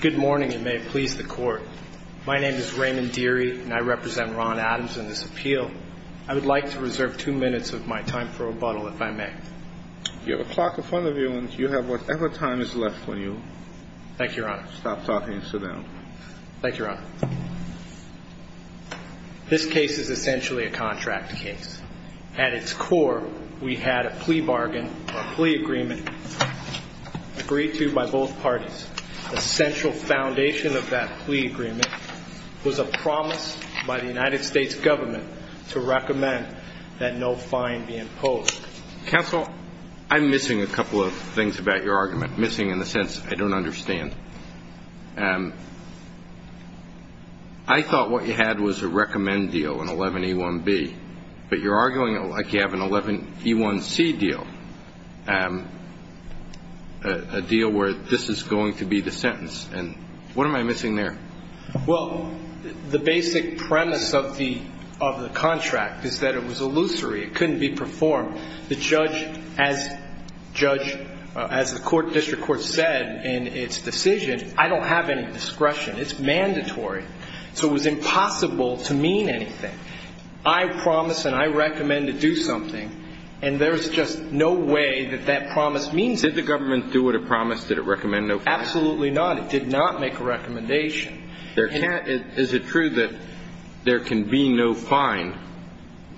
Good morning and may it please the court. My name is Raymond Deary and I represent Ron Adams in this appeal. I would like to reserve two minutes of my time for rebuttal if I may. You have a clock in front of you and you have whatever time is left for you. Thank you, Your Honor. Stop talking and sit down. Thank you, Your Honor. This case is essentially a contract case. At its core, we had a plea bargain or a plea agreement agreed to by both parties. The central foundation of that plea agreement was a promise by the United States government to recommend that no fine be imposed. Counsel, I'm missing a couple of things about your argument, missing in the sense I don't understand. I thought what you had was a recommend deal, an 11A1B, but you're arguing it like you have an 11A1C deal, a deal where this is going to be the sentence. What am I missing there? Well, the basic premise of the contract is that it was illusory. It couldn't be performed. The judge, as the district court said in its decision, I don't have any discretion. It's mandatory. So it was impossible to mean anything. I promise and I recommend to do something, and there's just no way that that promise means anything. Did the government do what it promised? Did it recommend no fine? Absolutely not. It did not make a recommendation. Is it true that there can be no fine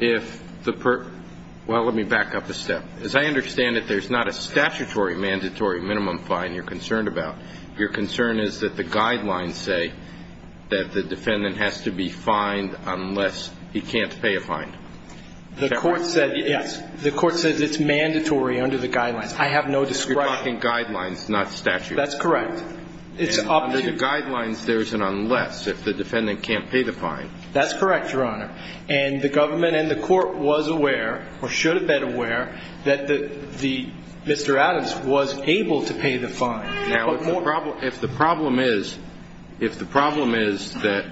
if the person – well, let me back up a step. As I understand it, there's not a statutory mandatory minimum fine you're concerned about. Your concern is that the guidelines say that the defendant has to be fined unless he can't pay a fine. The court said yes. The court said it's mandatory under the guidelines. I have no discretion. It's blocking guidelines, not statutes. That's correct. It's up to – And under the guidelines, there's an unless if the defendant can't pay the fine. That's correct, Your Honor. And the government and the court was aware, or should have been aware, that Mr. Adams was able to pay the fine. Now, if the problem is – if the problem is that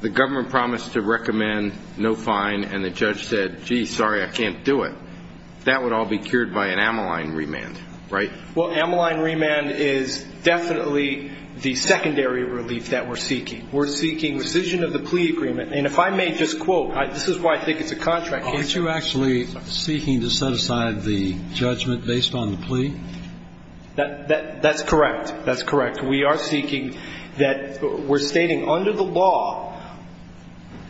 the government promised to recommend no fine and the judge said, gee, sorry, I can't do it, that would all be cured by an amyline remand, right? Well, amyline remand is definitely the secondary relief that we're seeking. We're seeking rescission of the plea agreement. And if I may just quote – this is why I think it's a contract case. Aren't you actually seeking to set aside the judgment based on the plea? That's correct. That's correct. We are seeking that – we're stating under the law,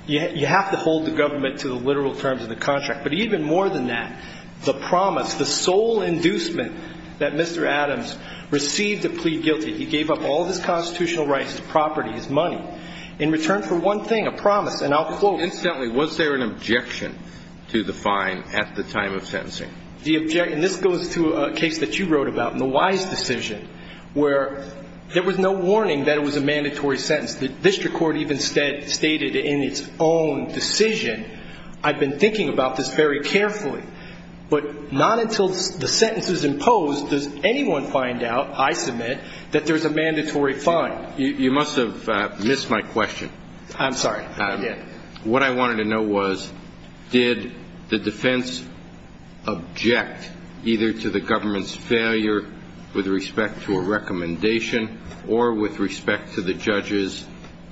you have to hold the government to the literal terms of the contract. But even more than that, the promise, the sole inducement that Mr. Adams received to plead guilty, he gave up all of his constitutional rights, his property, his money, in return for one thing, a promise. And I'll quote – Incidentally, was there an objection to the fine at the time of sentencing? The objection – this goes to a case that you wrote about in the Wise decision, where there was no warning that it was a mandatory sentence. The district court even stated in its own decision, I've been thinking about this very carefully, but not until the sentence is imposed does anyone find out, I submit, that there's a mandatory fine. You must have missed my question. I'm sorry, I did. What I wanted to know was, did the defense object either to the government's failure with respect to a recommendation or with respect to the judge's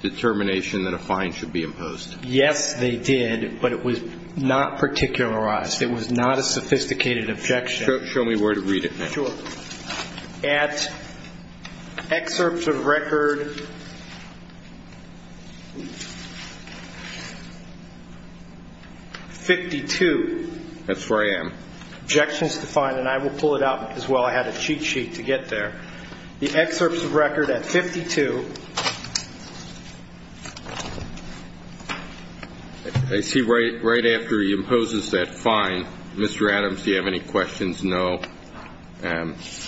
determination that a fine should be imposed? Yes, they did, but it was not particularized. It was not a sophisticated objection. Show me where to read it. Sure. At excerpts of record 52 – That's where I am. Objections to the fine, and I will pull it out because, well, I had a cheat sheet to get there. The excerpts of record at 52 – I see right after he imposes that fine, Mr. Adams, do you have any questions? No. That's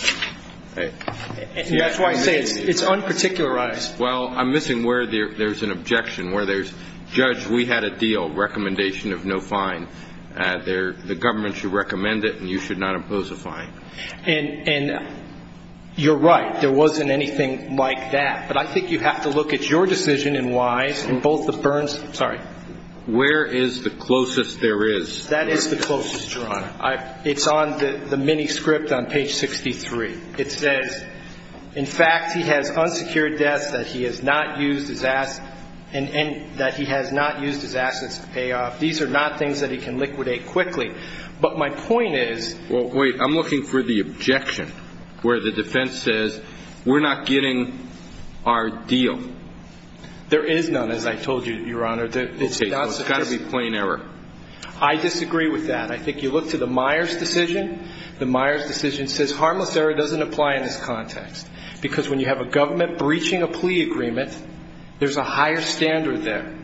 why I say it's unparticularized. Well, I'm missing where there's an objection, where there's, judge, we had a deal, recommendation of no fine. The government should recommend it, and you should not impose a fine. And you're right. There wasn't anything like that. But I think you have to look at your decision and why in both the Burns – sorry. Where is the closest there is? That is the closest, Your Honor. It's on the mini script on page 63. It says, in fact, he has unsecured debts that he has not used his assets to pay off. These are not things that he can liquidate quickly. But my point is – Well, wait. I'm looking for the objection where the defense says we're not getting our deal. There is none, as I told you, Your Honor. Okay. So it's got to be plain error. I disagree with that. I think you look to the Myers decision. The Myers decision says harmless error doesn't apply in this context because when you have a government breaching a plea agreement, there's a higher standard there.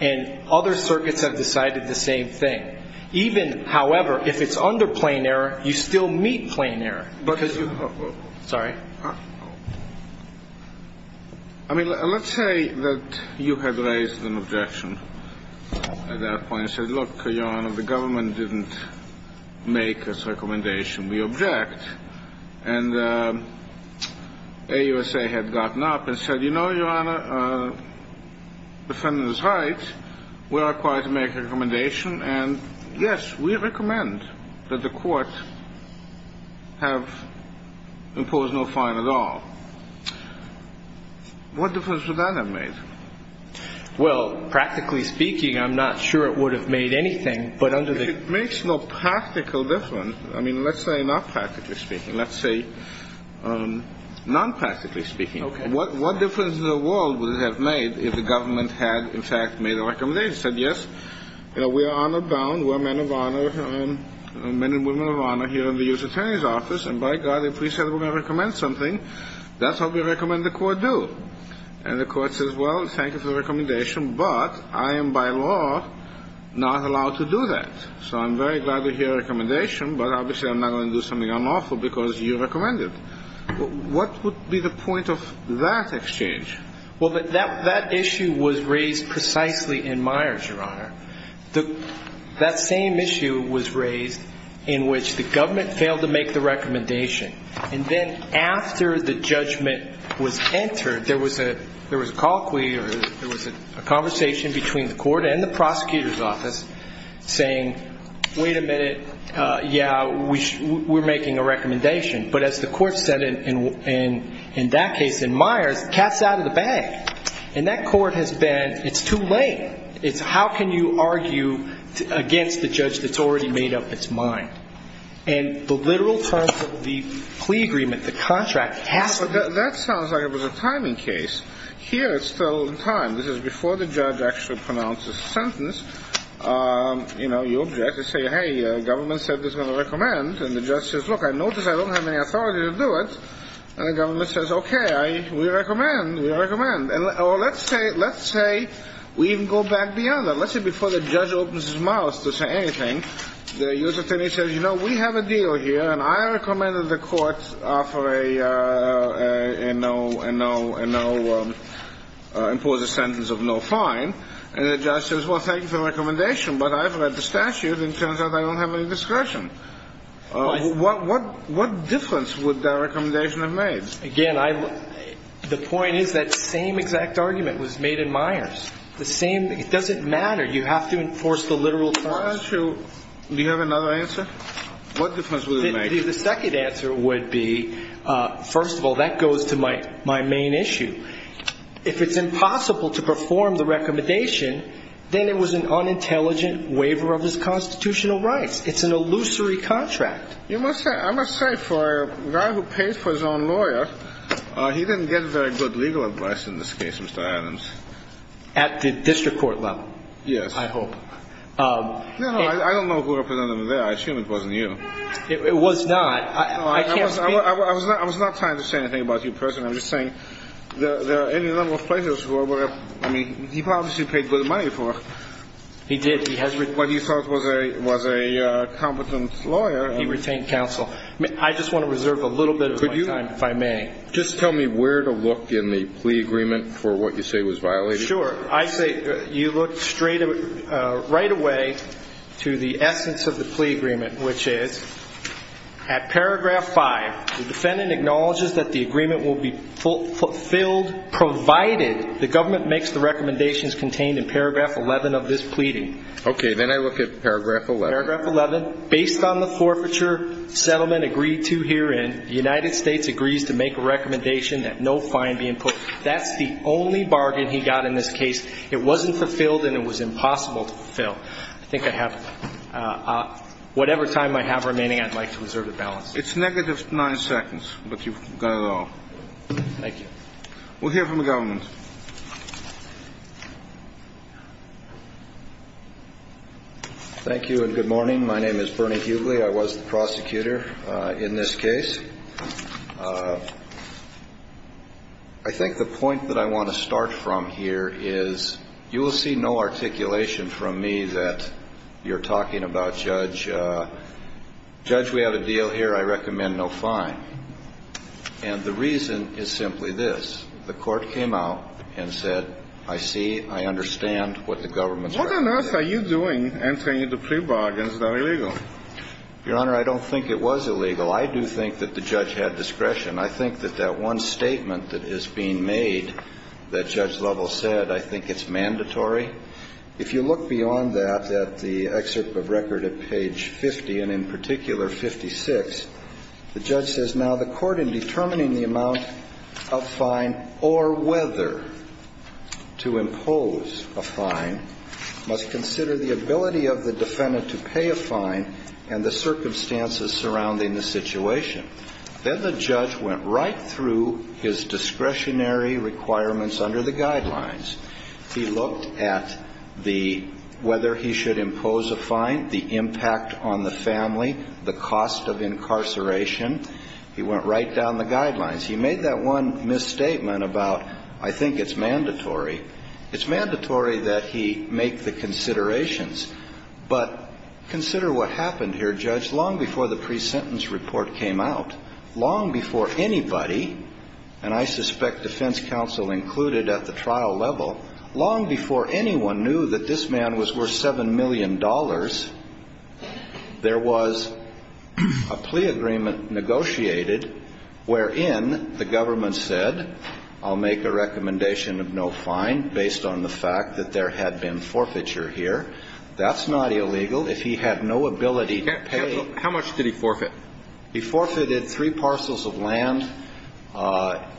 And other circuits have decided the same thing. Even, however, if it's under plain error, you still meet plain error. Because you – sorry. I mean, let's say that you had raised an objection at that point and said, look, Your Honor, the government didn't make its recommendation. We object. And AUSA had gotten up and said, you know, Your Honor, the defendant is right. We're required to make a recommendation. And, yes, we recommend that the court have imposed no fine at all. What difference would that have made? Well, practically speaking, I'm not sure it would have made anything. But under the – It makes no practical difference. I mean, let's say not practically speaking. Let's say non-practically speaking. Okay. What difference in the world would it have made if the government had, in fact, made a recommendation, said, yes, you know, we are honor bound, we're men of honor, men and women of honor here in the U.S. Attorney's Office, and by God, if we said we're going to recommend something, that's what we recommend the court do. And the court says, well, thank you for the recommendation, but I am by law not allowed to do that. So I'm very glad to hear a recommendation, but obviously I'm not going to do something unlawful because you recommend it. What would be the point of that exchange? Well, that issue was raised precisely in Myers, Your Honor. That same issue was raised in which the government failed to make the recommendation. And then after the judgment was entered, there was a colloquy or there was a conversation between the court and the prosecutor's office saying, wait a minute, yeah, we're making a recommendation. But as the court said in that case in Myers, the cat's out of the bag. And that court has been, it's too late. It's how can you argue against the judge that's already made up its mind. And the literal terms of the plea agreement, the contract has to be made up. Well, that sounds like it was a timing case. Here it's still in time. This is before the judge actually pronounces the sentence. You know, you object. You say, hey, the government said it's going to recommend. And the judge says, look, I notice I don't have any authority to do it. And the government says, okay, we recommend. We recommend. Or let's say we even go back beyond that. Let's say before the judge opens his mouth to say anything, the U.S. attorney says, you know, we have a deal here. And I recommend that the court impose a sentence of no fine. And the judge says, well, thank you for the recommendation. But I've read the statute and it turns out I don't have any discretion. What difference would that recommendation have made? Again, the point is that same exact argument was made in Myers. The same, it doesn't matter. You have to enforce the literal terms. Do you have another answer? What difference would it make? The second answer would be, first of all, that goes to my main issue. If it's impossible to perform the recommendation, then it was an unintelligent waiver of his constitutional rights. It's an illusory contract. I must say for a guy who paid for his own lawyer, he didn't get very good legal advice in this case, Mr. Adams. At the district court level? Yes. I hope. I don't know who represented him there. I assume it wasn't you. It was not. I can't speak. I was not trying to say anything about you personally. I'm just saying there are any number of places where he probably should have paid good money for what he thought was a competent lawyer. He retained counsel. I just want to reserve a little bit of my time, if I may. Just tell me where to look in the plea agreement for what you say was violated. Sure. I say you look right away to the essence of the plea agreement, which is at paragraph 5, the defendant acknowledges that the agreement will be fulfilled provided the government makes the recommendations contained in paragraph 11 of this pleading. Okay. Then I look at paragraph 11. Paragraph 11. Based on the forfeiture settlement agreed to herein, the United States agrees to make a recommendation that no fine be input. That's the only bargain he got in this case. It wasn't fulfilled and it was impossible to fulfill. I think I have whatever time I have remaining, I'd like to reserve the balance. It's negative nine seconds, but you've got it all. Thank you. We'll hear from the government. Thank you and good morning. My name is Bernie Hughley. I was the prosecutor in this case. I think the point that I want to start from here is you will see no articulation from me that you're talking about, Judge. Judge, we have a deal here. I recommend no fine. And the reason is simply this. The court came out and said, I see, I understand what the government's argument is. What on earth are you doing answering the plea bargains that are illegal? Your Honor, I don't think it was illegal. I do think that the judge had discretion. I think that that one statement that is being made that Judge Lovell said, I think it's mandatory. If you look beyond that, at the excerpt of record at page 50, and in particular 56, the judge says, Now the court in determining the amount of fine or whether to impose a fine must consider the ability of the defendant to pay a fine and the circumstances surrounding the situation. Then the judge went right through his discretionary requirements under the guidelines. He looked at the whether he should impose a fine, the impact on the family, the cost of incarceration. He went right down the guidelines. He made that one misstatement about, I think it's mandatory. It's mandatory that he make the considerations. But consider what happened here, Judge, long before the pre-sentence report came out, long before anybody, and I suspect defense counsel included at the trial level, long before anyone knew that this man was worth $7 million, there was a plea agreement negotiated wherein the government said, I'll make a recommendation of no fine based on the fact that there had been forfeiture here. That's not illegal. If he had no ability to pay ---- Counsel, how much did he forfeit? He forfeited three parcels of land.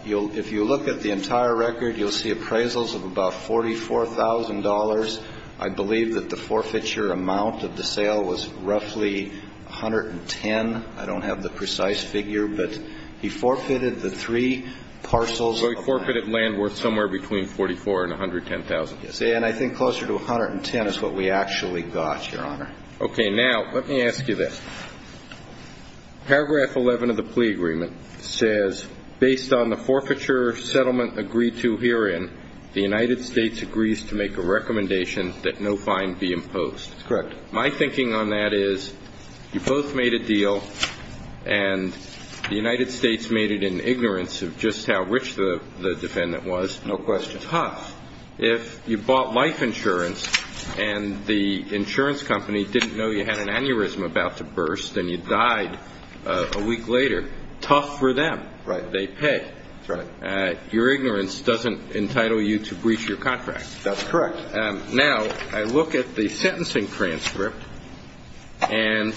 If you look at the entire record, you'll see appraisals of about $44,000. I believe that the forfeiture amount of the sale was roughly 110. I don't have the precise figure, but he forfeited the three parcels of land. So he forfeited land worth somewhere between 44 and 110,000. Yes. And I think closer to 110 is what we actually got, Your Honor. Okay. Now let me ask you this. Paragraph 11 of the plea agreement says, based on the forfeiture settlement agreed to herein, the United States agrees to make a recommendation that no fine be imposed. Correct. My thinking on that is you both made a deal, and the United States made it in ignorance of just how rich the defendant was. No question. If you bought life insurance and the insurance company didn't know you had an aneurysm about to burst and you died a week later, tough for them. Right. They pay. That's right. Your ignorance doesn't entitle you to breach your contract. That's correct. Now I look at the sentencing transcript, and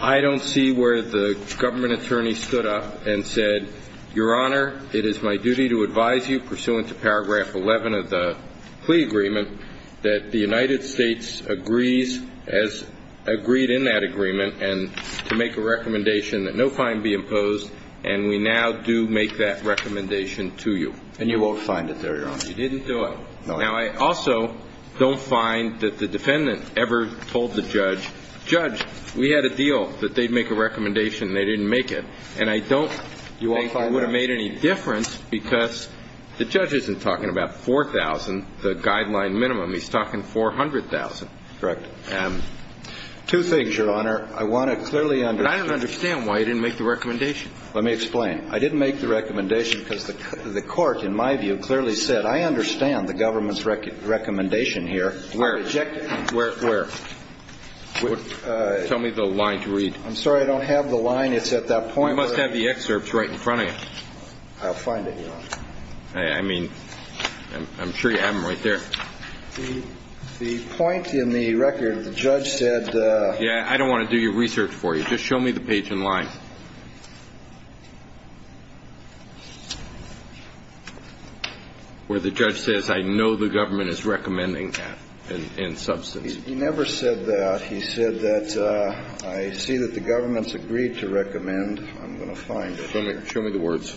I don't see where the government attorney stood up and said, Your Honor, it is my duty to advise you, pursuant to paragraph 11 of the plea agreement, that the United States agrees as agreed in that agreement and to make a recommendation that no fine be imposed, and we now do make that recommendation to you. And you won't find it there, Your Honor. You didn't do it. No. Now I also don't find that the defendant ever told the judge, Judge, we had a deal that they'd make a recommendation, and they didn't make it. And I don't think it would have made any difference because the judge isn't talking about $4,000, the guideline minimum. He's talking $400,000. Correct. Two things, Your Honor. I want to clearly understand. But I don't understand why you didn't make the recommendation. Let me explain. I didn't make the recommendation because the court, in my view, clearly said, I understand the government's recommendation here. Where? I reject it. Where? Tell me the line to read. I'm sorry, I don't have the line. It's at that point. You must have the excerpts right in front of you. I'll find it, Your Honor. I mean, I'm sure you have them right there. The point in the record, the judge said. Yeah, I don't want to do your research for you. Just show me the page in line where the judge says, I know the government is recommending that in substance. He never said that. He said that I see that the government's agreed to recommend. I'm going to find it. Show me the words.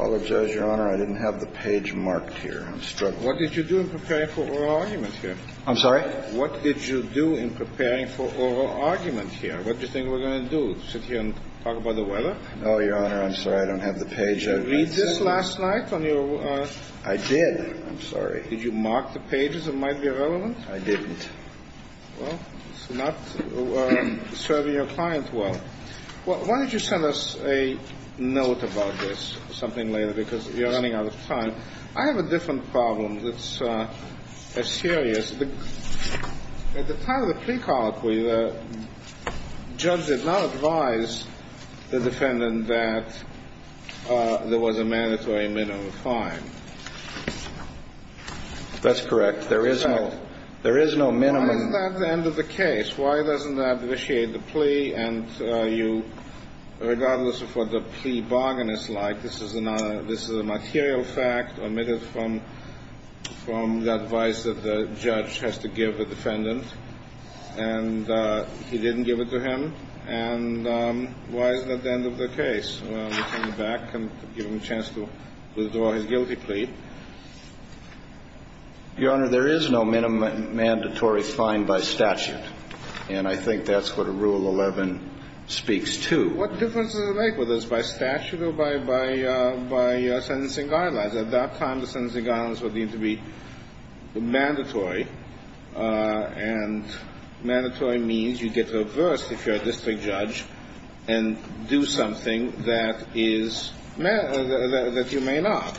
I apologize, Your Honor. I didn't have the page marked here. I'm struggling. What did you do in preparing for oral argument here? I'm sorry? What did you do in preparing for oral argument here? What do you think we're going to do, sit here and talk about the weather? Oh, Your Honor, I'm sorry. I don't have the page. Did you read this last night on your? I did. I'm sorry. Did you mark the pages that might be relevant? I didn't. Well, it's not serving your client well. Why don't you send us a note about this, something later, because you're running out of time. I have a different problem that's as serious. At the time of the plea colloquy, the judge did not advise the defendant that there was a mandatory minimum fine. That's correct. There is no minimum. Why isn't that the end of the case? Why doesn't that initiate the plea? And you, regardless of what the plea bargain is like, this is a material fact omitted from the advice that the judge has to give the defendant. And he didn't give it to him. And why is that the end of the case? Well, we turn it back and give him a chance to withdraw his guilty plea. Your Honor, there is no mandatory fine by statute. And I think that's what a Rule 11 speaks to. What difference does it make whether it's by statute or by sentencing guidelines? At that time, the sentencing guidelines were deemed to be mandatory. And mandatory means you get reversed if you're a district judge and do something that is that you may not.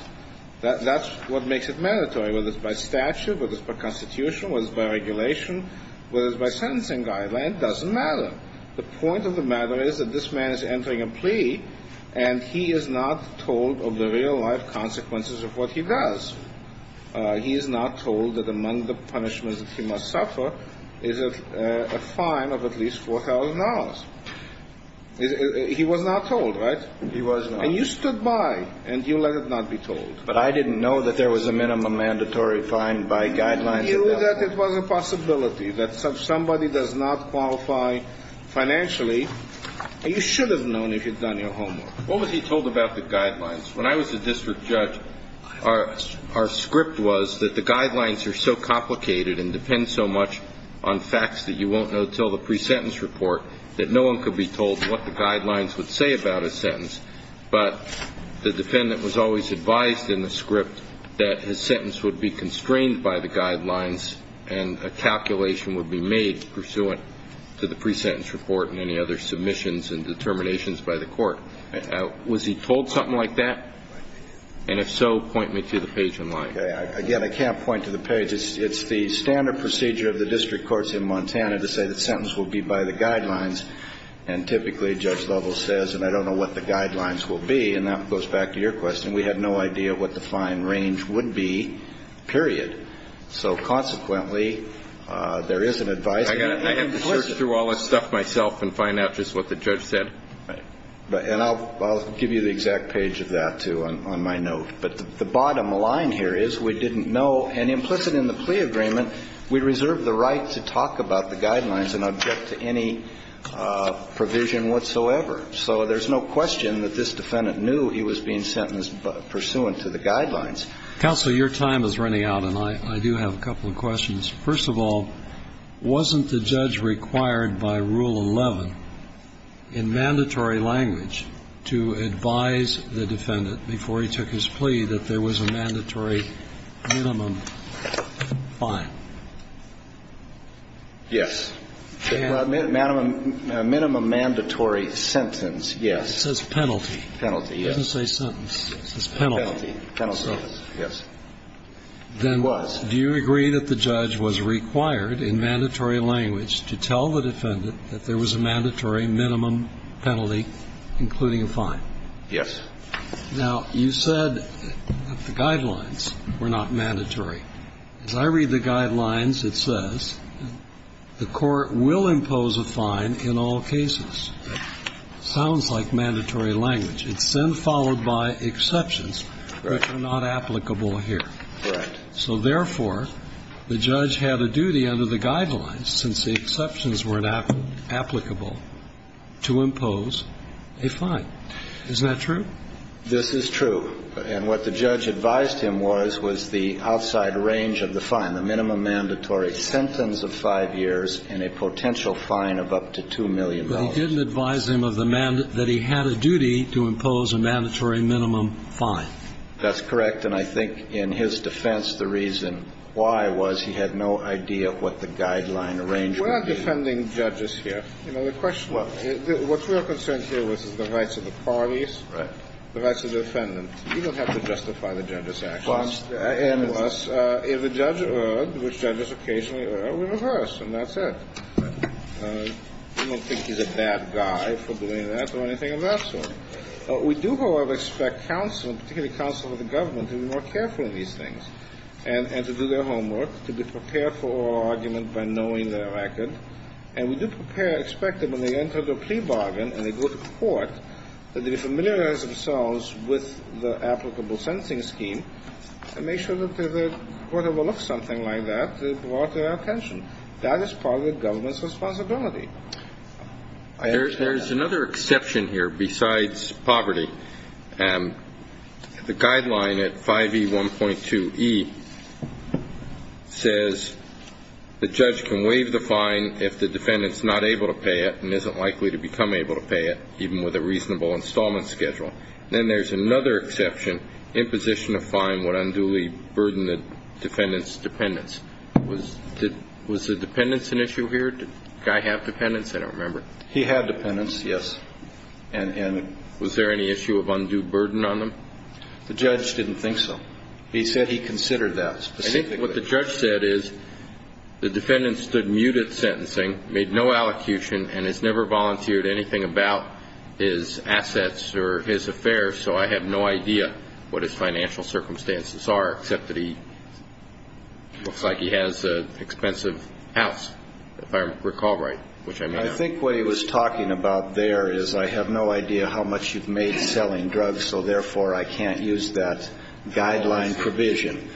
That's what makes it mandatory, whether it's by statute, whether it's by constitution, whether it's by regulation, whether it's by sentencing guideline. It doesn't matter. The point of the matter is that this man is entering a plea, and he is not told of the consequences of what he does. He is not told that among the punishments that he must suffer is a fine of at least $4,000. He was not told, right? He was not. And you stood by, and you let it not be told. But I didn't know that there was a minimum mandatory fine by guidelines. You knew that it was a possibility, that somebody does not qualify financially, and you should have known if you'd done your homework. What was he told about the guidelines? When I was a district judge, our script was that the guidelines are so complicated and depend so much on facts that you won't know until the pre-sentence report that no one could be told what the guidelines would say about a sentence. But the defendant was always advised in the script that his sentence would be constrained by the guidelines and a calculation would be made pursuant to the pre-sentence report and any other submissions and determinations by the court. Was he told something like that? And if so, point me to the page in line. Okay. Again, I can't point to the page. It's the standard procedure of the district courts in Montana to say the sentence will be by the guidelines. And typically, Judge Lovell says, and I don't know what the guidelines will be, and that goes back to your question. We had no idea what the fine range would be, period. So consequently, there is an advice. I have to search through all this stuff myself and find out just what the judge said. Right. And I'll give you the exact page of that, too, on my note. But the bottom line here is we didn't know, and implicit in the plea agreement, we reserved the right to talk about the guidelines and object to any provision whatsoever. So there's no question that this defendant knew he was being sentenced pursuant to the guidelines. Counsel, your time is running out, and I do have a couple of questions. First of all, wasn't the judge required by Rule 11? In mandatory language to advise the defendant before he took his plea that there was a mandatory minimum fine? Yes. Minimum mandatory sentence, yes. It says penalty. Penalty, yes. It doesn't say sentence. It says penalty. Penalty. Penalty, yes. It was. Then do you agree that the judge was required in mandatory language to tell the defendant that there was a mandatory minimum penalty, including a fine? Yes. Now, you said that the guidelines were not mandatory. As I read the guidelines, it says the court will impose a fine in all cases. Sounds like mandatory language. It's then followed by exceptions that are not applicable here. Correct. So, therefore, the judge had a duty under the guidelines, since the exceptions were not applicable, to impose a fine. Isn't that true? This is true. And what the judge advised him was was the outside range of the fine, the minimum mandatory sentence of five years and a potential fine of up to $2 million. But he didn't advise him of the man that he had a duty to impose a mandatory minimum fine. That's correct. And I think in his defense, the reason why was he had no idea what the guideline was. And that's why we don't have a fine in the range of the minimum. Well, we're not defending judges here. You know, the question – what we are concerned here with is the rights of the parties, the rights of the defendant. You don't have to justify the judge's actions. Unless if the judge, which judges occasionally are, are reversed, and that's it. You don't think he's a bad guy for doing that or anything of that sort. We do, however, expect counsel, particularly counsel of the government, to be more aware of their record. And we do expect that when they enter the plea bargain and they go to court, that they familiarize themselves with the applicable sentencing scheme and make sure that the court overlooks something like that that brought their attention. That is part of the government's responsibility. There's another exception here besides poverty. The guideline at 5E1.2e says the judge can waive the fine if the defendant's not able to pay it and isn't likely to become able to pay it, even with a reasonable installment schedule. Then there's another exception. Imposition of fine would unduly burden the defendant's dependence. Was the dependence an issue here? Did the guy have dependence? I don't remember. He had dependence, yes. And was there any issue of undue burden on him? The judge didn't think so. He said he considered that specifically. I think what the judge said is the defendant stood mute at sentencing, made no allocution, and has never volunteered anything about his assets or his affairs, so I have no idea what his financial circumstances are, except that he looks like he has an expensive house, if I recall right, which I'm not. I think what he was talking about there is I have no idea how much you've made selling drugs, so therefore I can't use that guideline provision.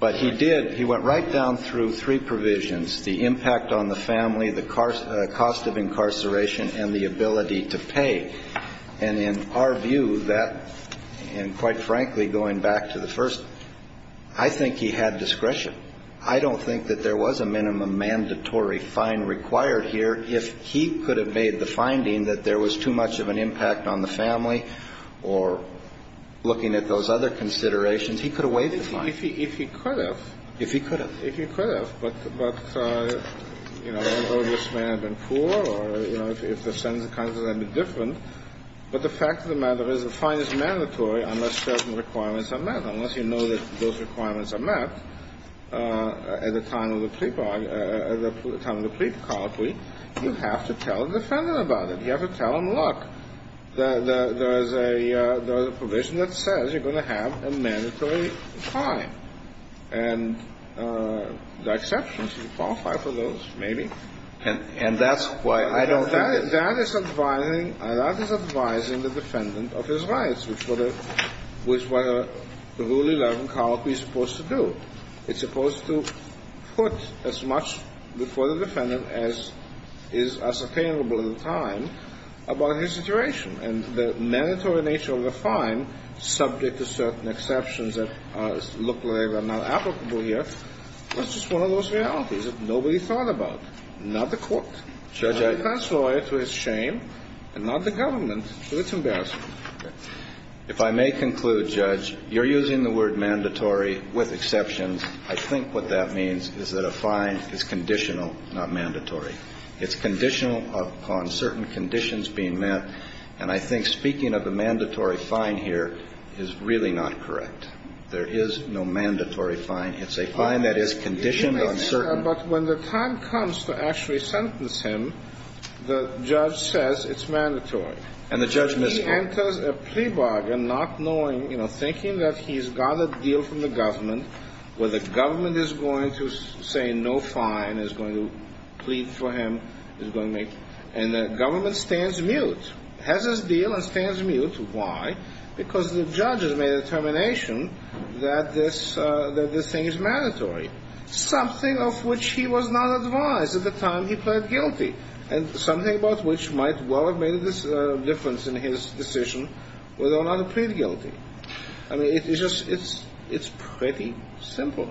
But he did. He went right down through three provisions, the impact on the family, the cost of incarceration, and the ability to pay. And in our view, that, and quite frankly, going back to the first, I think he had discretion. I don't think that there was a minimum mandatory fine required here. If he could have made the finding that there was too much of an impact on the family or looking at those other considerations, he could have waived the fine. If he could have. If he could have. If he could have. But, you know, I don't know if this man had been poor or, you know, if the sentence had been different, but the fact of the matter is the fine is mandatory unless certain requirements are met. Unless you know that those requirements are met at the time of the plea bargain, at the time of the plea colloquy, you have to tell the defendant about it. You have to tell him, look, there is a provision that says you're going to have a mandatory fine. And there are exceptions. You qualify for those, maybe. And that's why I don't think. That is advising the defendant of his rights, which was what the Rule 11 colloquy is supposed to do. It's supposed to put as much before the defendant as is attainable at the time about his situation. And the mandatory nature of the fine, subject to certain exceptions that look like are not applicable here, that's just one of those realities that nobody thought about. Not the court. The defense lawyer, to his shame, and not the government, so it's embarrassing. If I may conclude, Judge, you're using the word mandatory with exceptions. I think what that means is that a fine is conditional, not mandatory. It's conditional upon certain conditions being met. And I think speaking of a mandatory fine here is really not correct. There is no mandatory fine. It's a fine that is conditioned on certain. But when the time comes to actually sentence him, the judge says it's mandatory. And the judge miscalls. He enters a plea bargain not knowing, thinking that he's got a deal from the government where the government is going to say no fine, is going to plead for him, is going to make. And the government stands mute, has his deal and stands mute. Why? Because the judge has made a determination that this thing is mandatory. Something of which he was not advised at the time he pled guilty. And something about which might well have made a difference in his decision whether or not to plead guilty. I mean, it's pretty simple.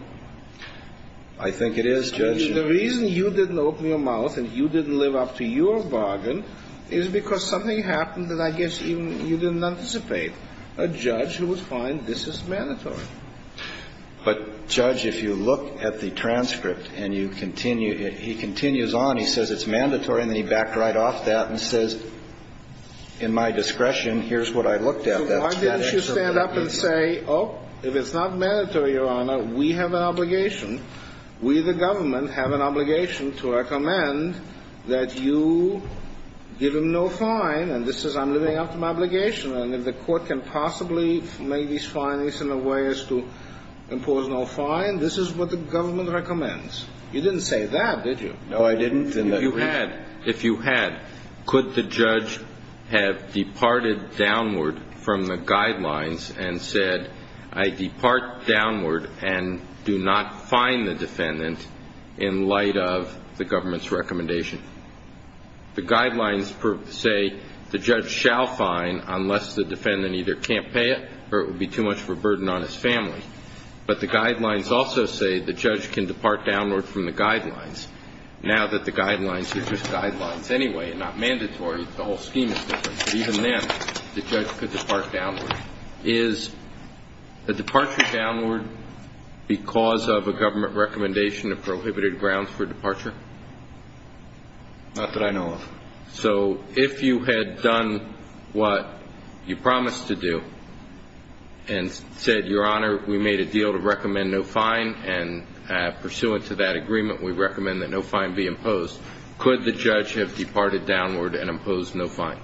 I think it is, Judge. The reason you didn't open your mouth and you didn't live up to your bargain is because something happened that I guess even you didn't anticipate. A judge who would find this is mandatory. But, Judge, if you look at the transcript and you continue it, he continues on. He says it's mandatory. And then he backed right off that and says, in my discretion, here's what I looked at. So why didn't you stand up and say, oh, if it's not mandatory, Your Honor, we have an obligation. We, the government, have an obligation to recommend that you give him no fine. And this is I'm living up to my obligation. And if the court can possibly make these findings in a way as to impose no fine, this is what the government recommends. You didn't say that, did you? No, I didn't. If you had, could the judge have departed downward from the guidelines and said, I depart downward and do not fine the defendant in light of the government's recommendation? The guidelines say the judge shall fine unless the defendant either can't pay it or it would be too much of a burden on his family. But the guidelines also say the judge can depart downward from the guidelines. Now that the guidelines are just guidelines anyway and not mandatory, the whole scheme is different. But even then, the judge could depart downward. Is the departure downward because of a government recommendation of prohibited grounds for departure? Not that I know of. So if you had done what you promised to do and said, Your Honor, we made a deal to recommend no fine, and pursuant to that agreement, we recommend that no fine be imposed, could the judge have departed downward and imposed no fine?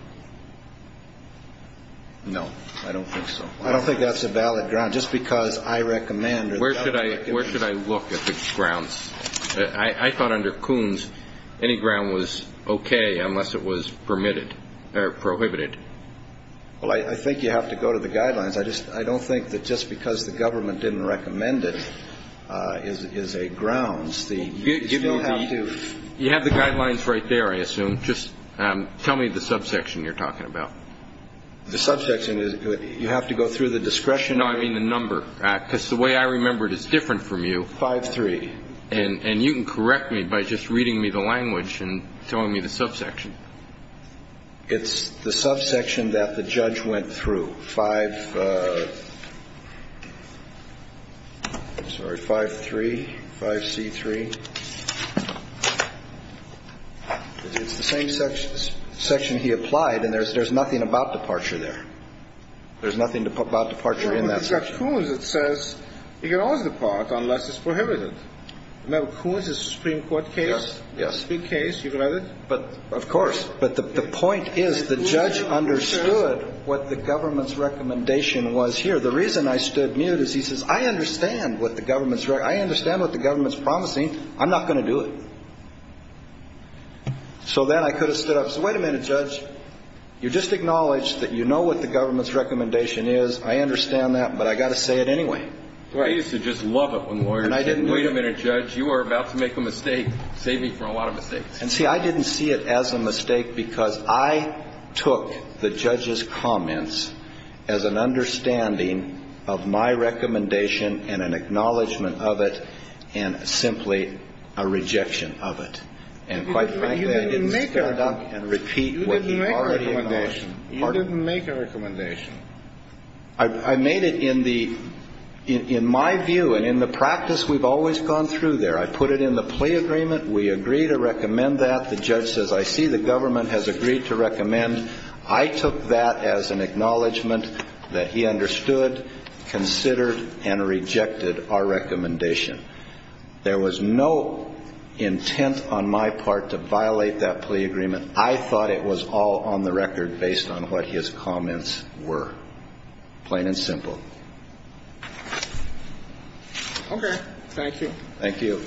No, I don't think so. I don't think that's a valid ground. Just because I recommend or the government recommends. Where should I look at the grounds? I thought under Coons, any ground was okay unless it was permitted or prohibited. Well, I think you have to go to the guidelines. I don't think that just because the government didn't recommend it is a grounds. You have the guidelines right there, I assume. Just tell me the subsection you're talking about. The subsection is you have to go through the discretionary. No, I mean the number. Because the way I remember it is different from you. It's 5-3. And you can correct me by just reading me the language and telling me the subsection. It's the subsection that the judge went through. 5, sorry, 5-3, 5-C-3. It's the same section he applied, and there's nothing about departure there. There's nothing about departure in that section. In Judge Coons, it says you can always depart unless it's prohibited. Remember Coons' Supreme Court case? Yes. Big case. You've read it. Of course. But the point is the judge understood what the government's recommendation was here. The reason I stood mute is he says, I understand what the government's promising. I'm not going to do it. So then I could have stood up and said, wait a minute, Judge. You just acknowledged that you know what the government's recommendation is. I understand that, but I've got to say it anyway. I used to just love it when lawyers said, wait a minute, Judge. You are about to make a mistake. Save me from a lot of mistakes. And see, I didn't see it as a mistake because I took the judge's comments as an understanding of my recommendation and an acknowledgment of it and simply a rejection of it. And quite frankly, I didn't stand up and repeat what he already acknowledged. You didn't make a recommendation. I made it in my view and in the practice we've always gone through there. I put it in the plea agreement. We agree to recommend that. The judge says, I see the government has agreed to recommend. I took that as an acknowledgment that he understood, considered, and rejected our recommendation. There was no intent on my part to violate that plea agreement. I thought it was all on the record based on what his comments were, plain and simple. Okay. Thank you. Thank you.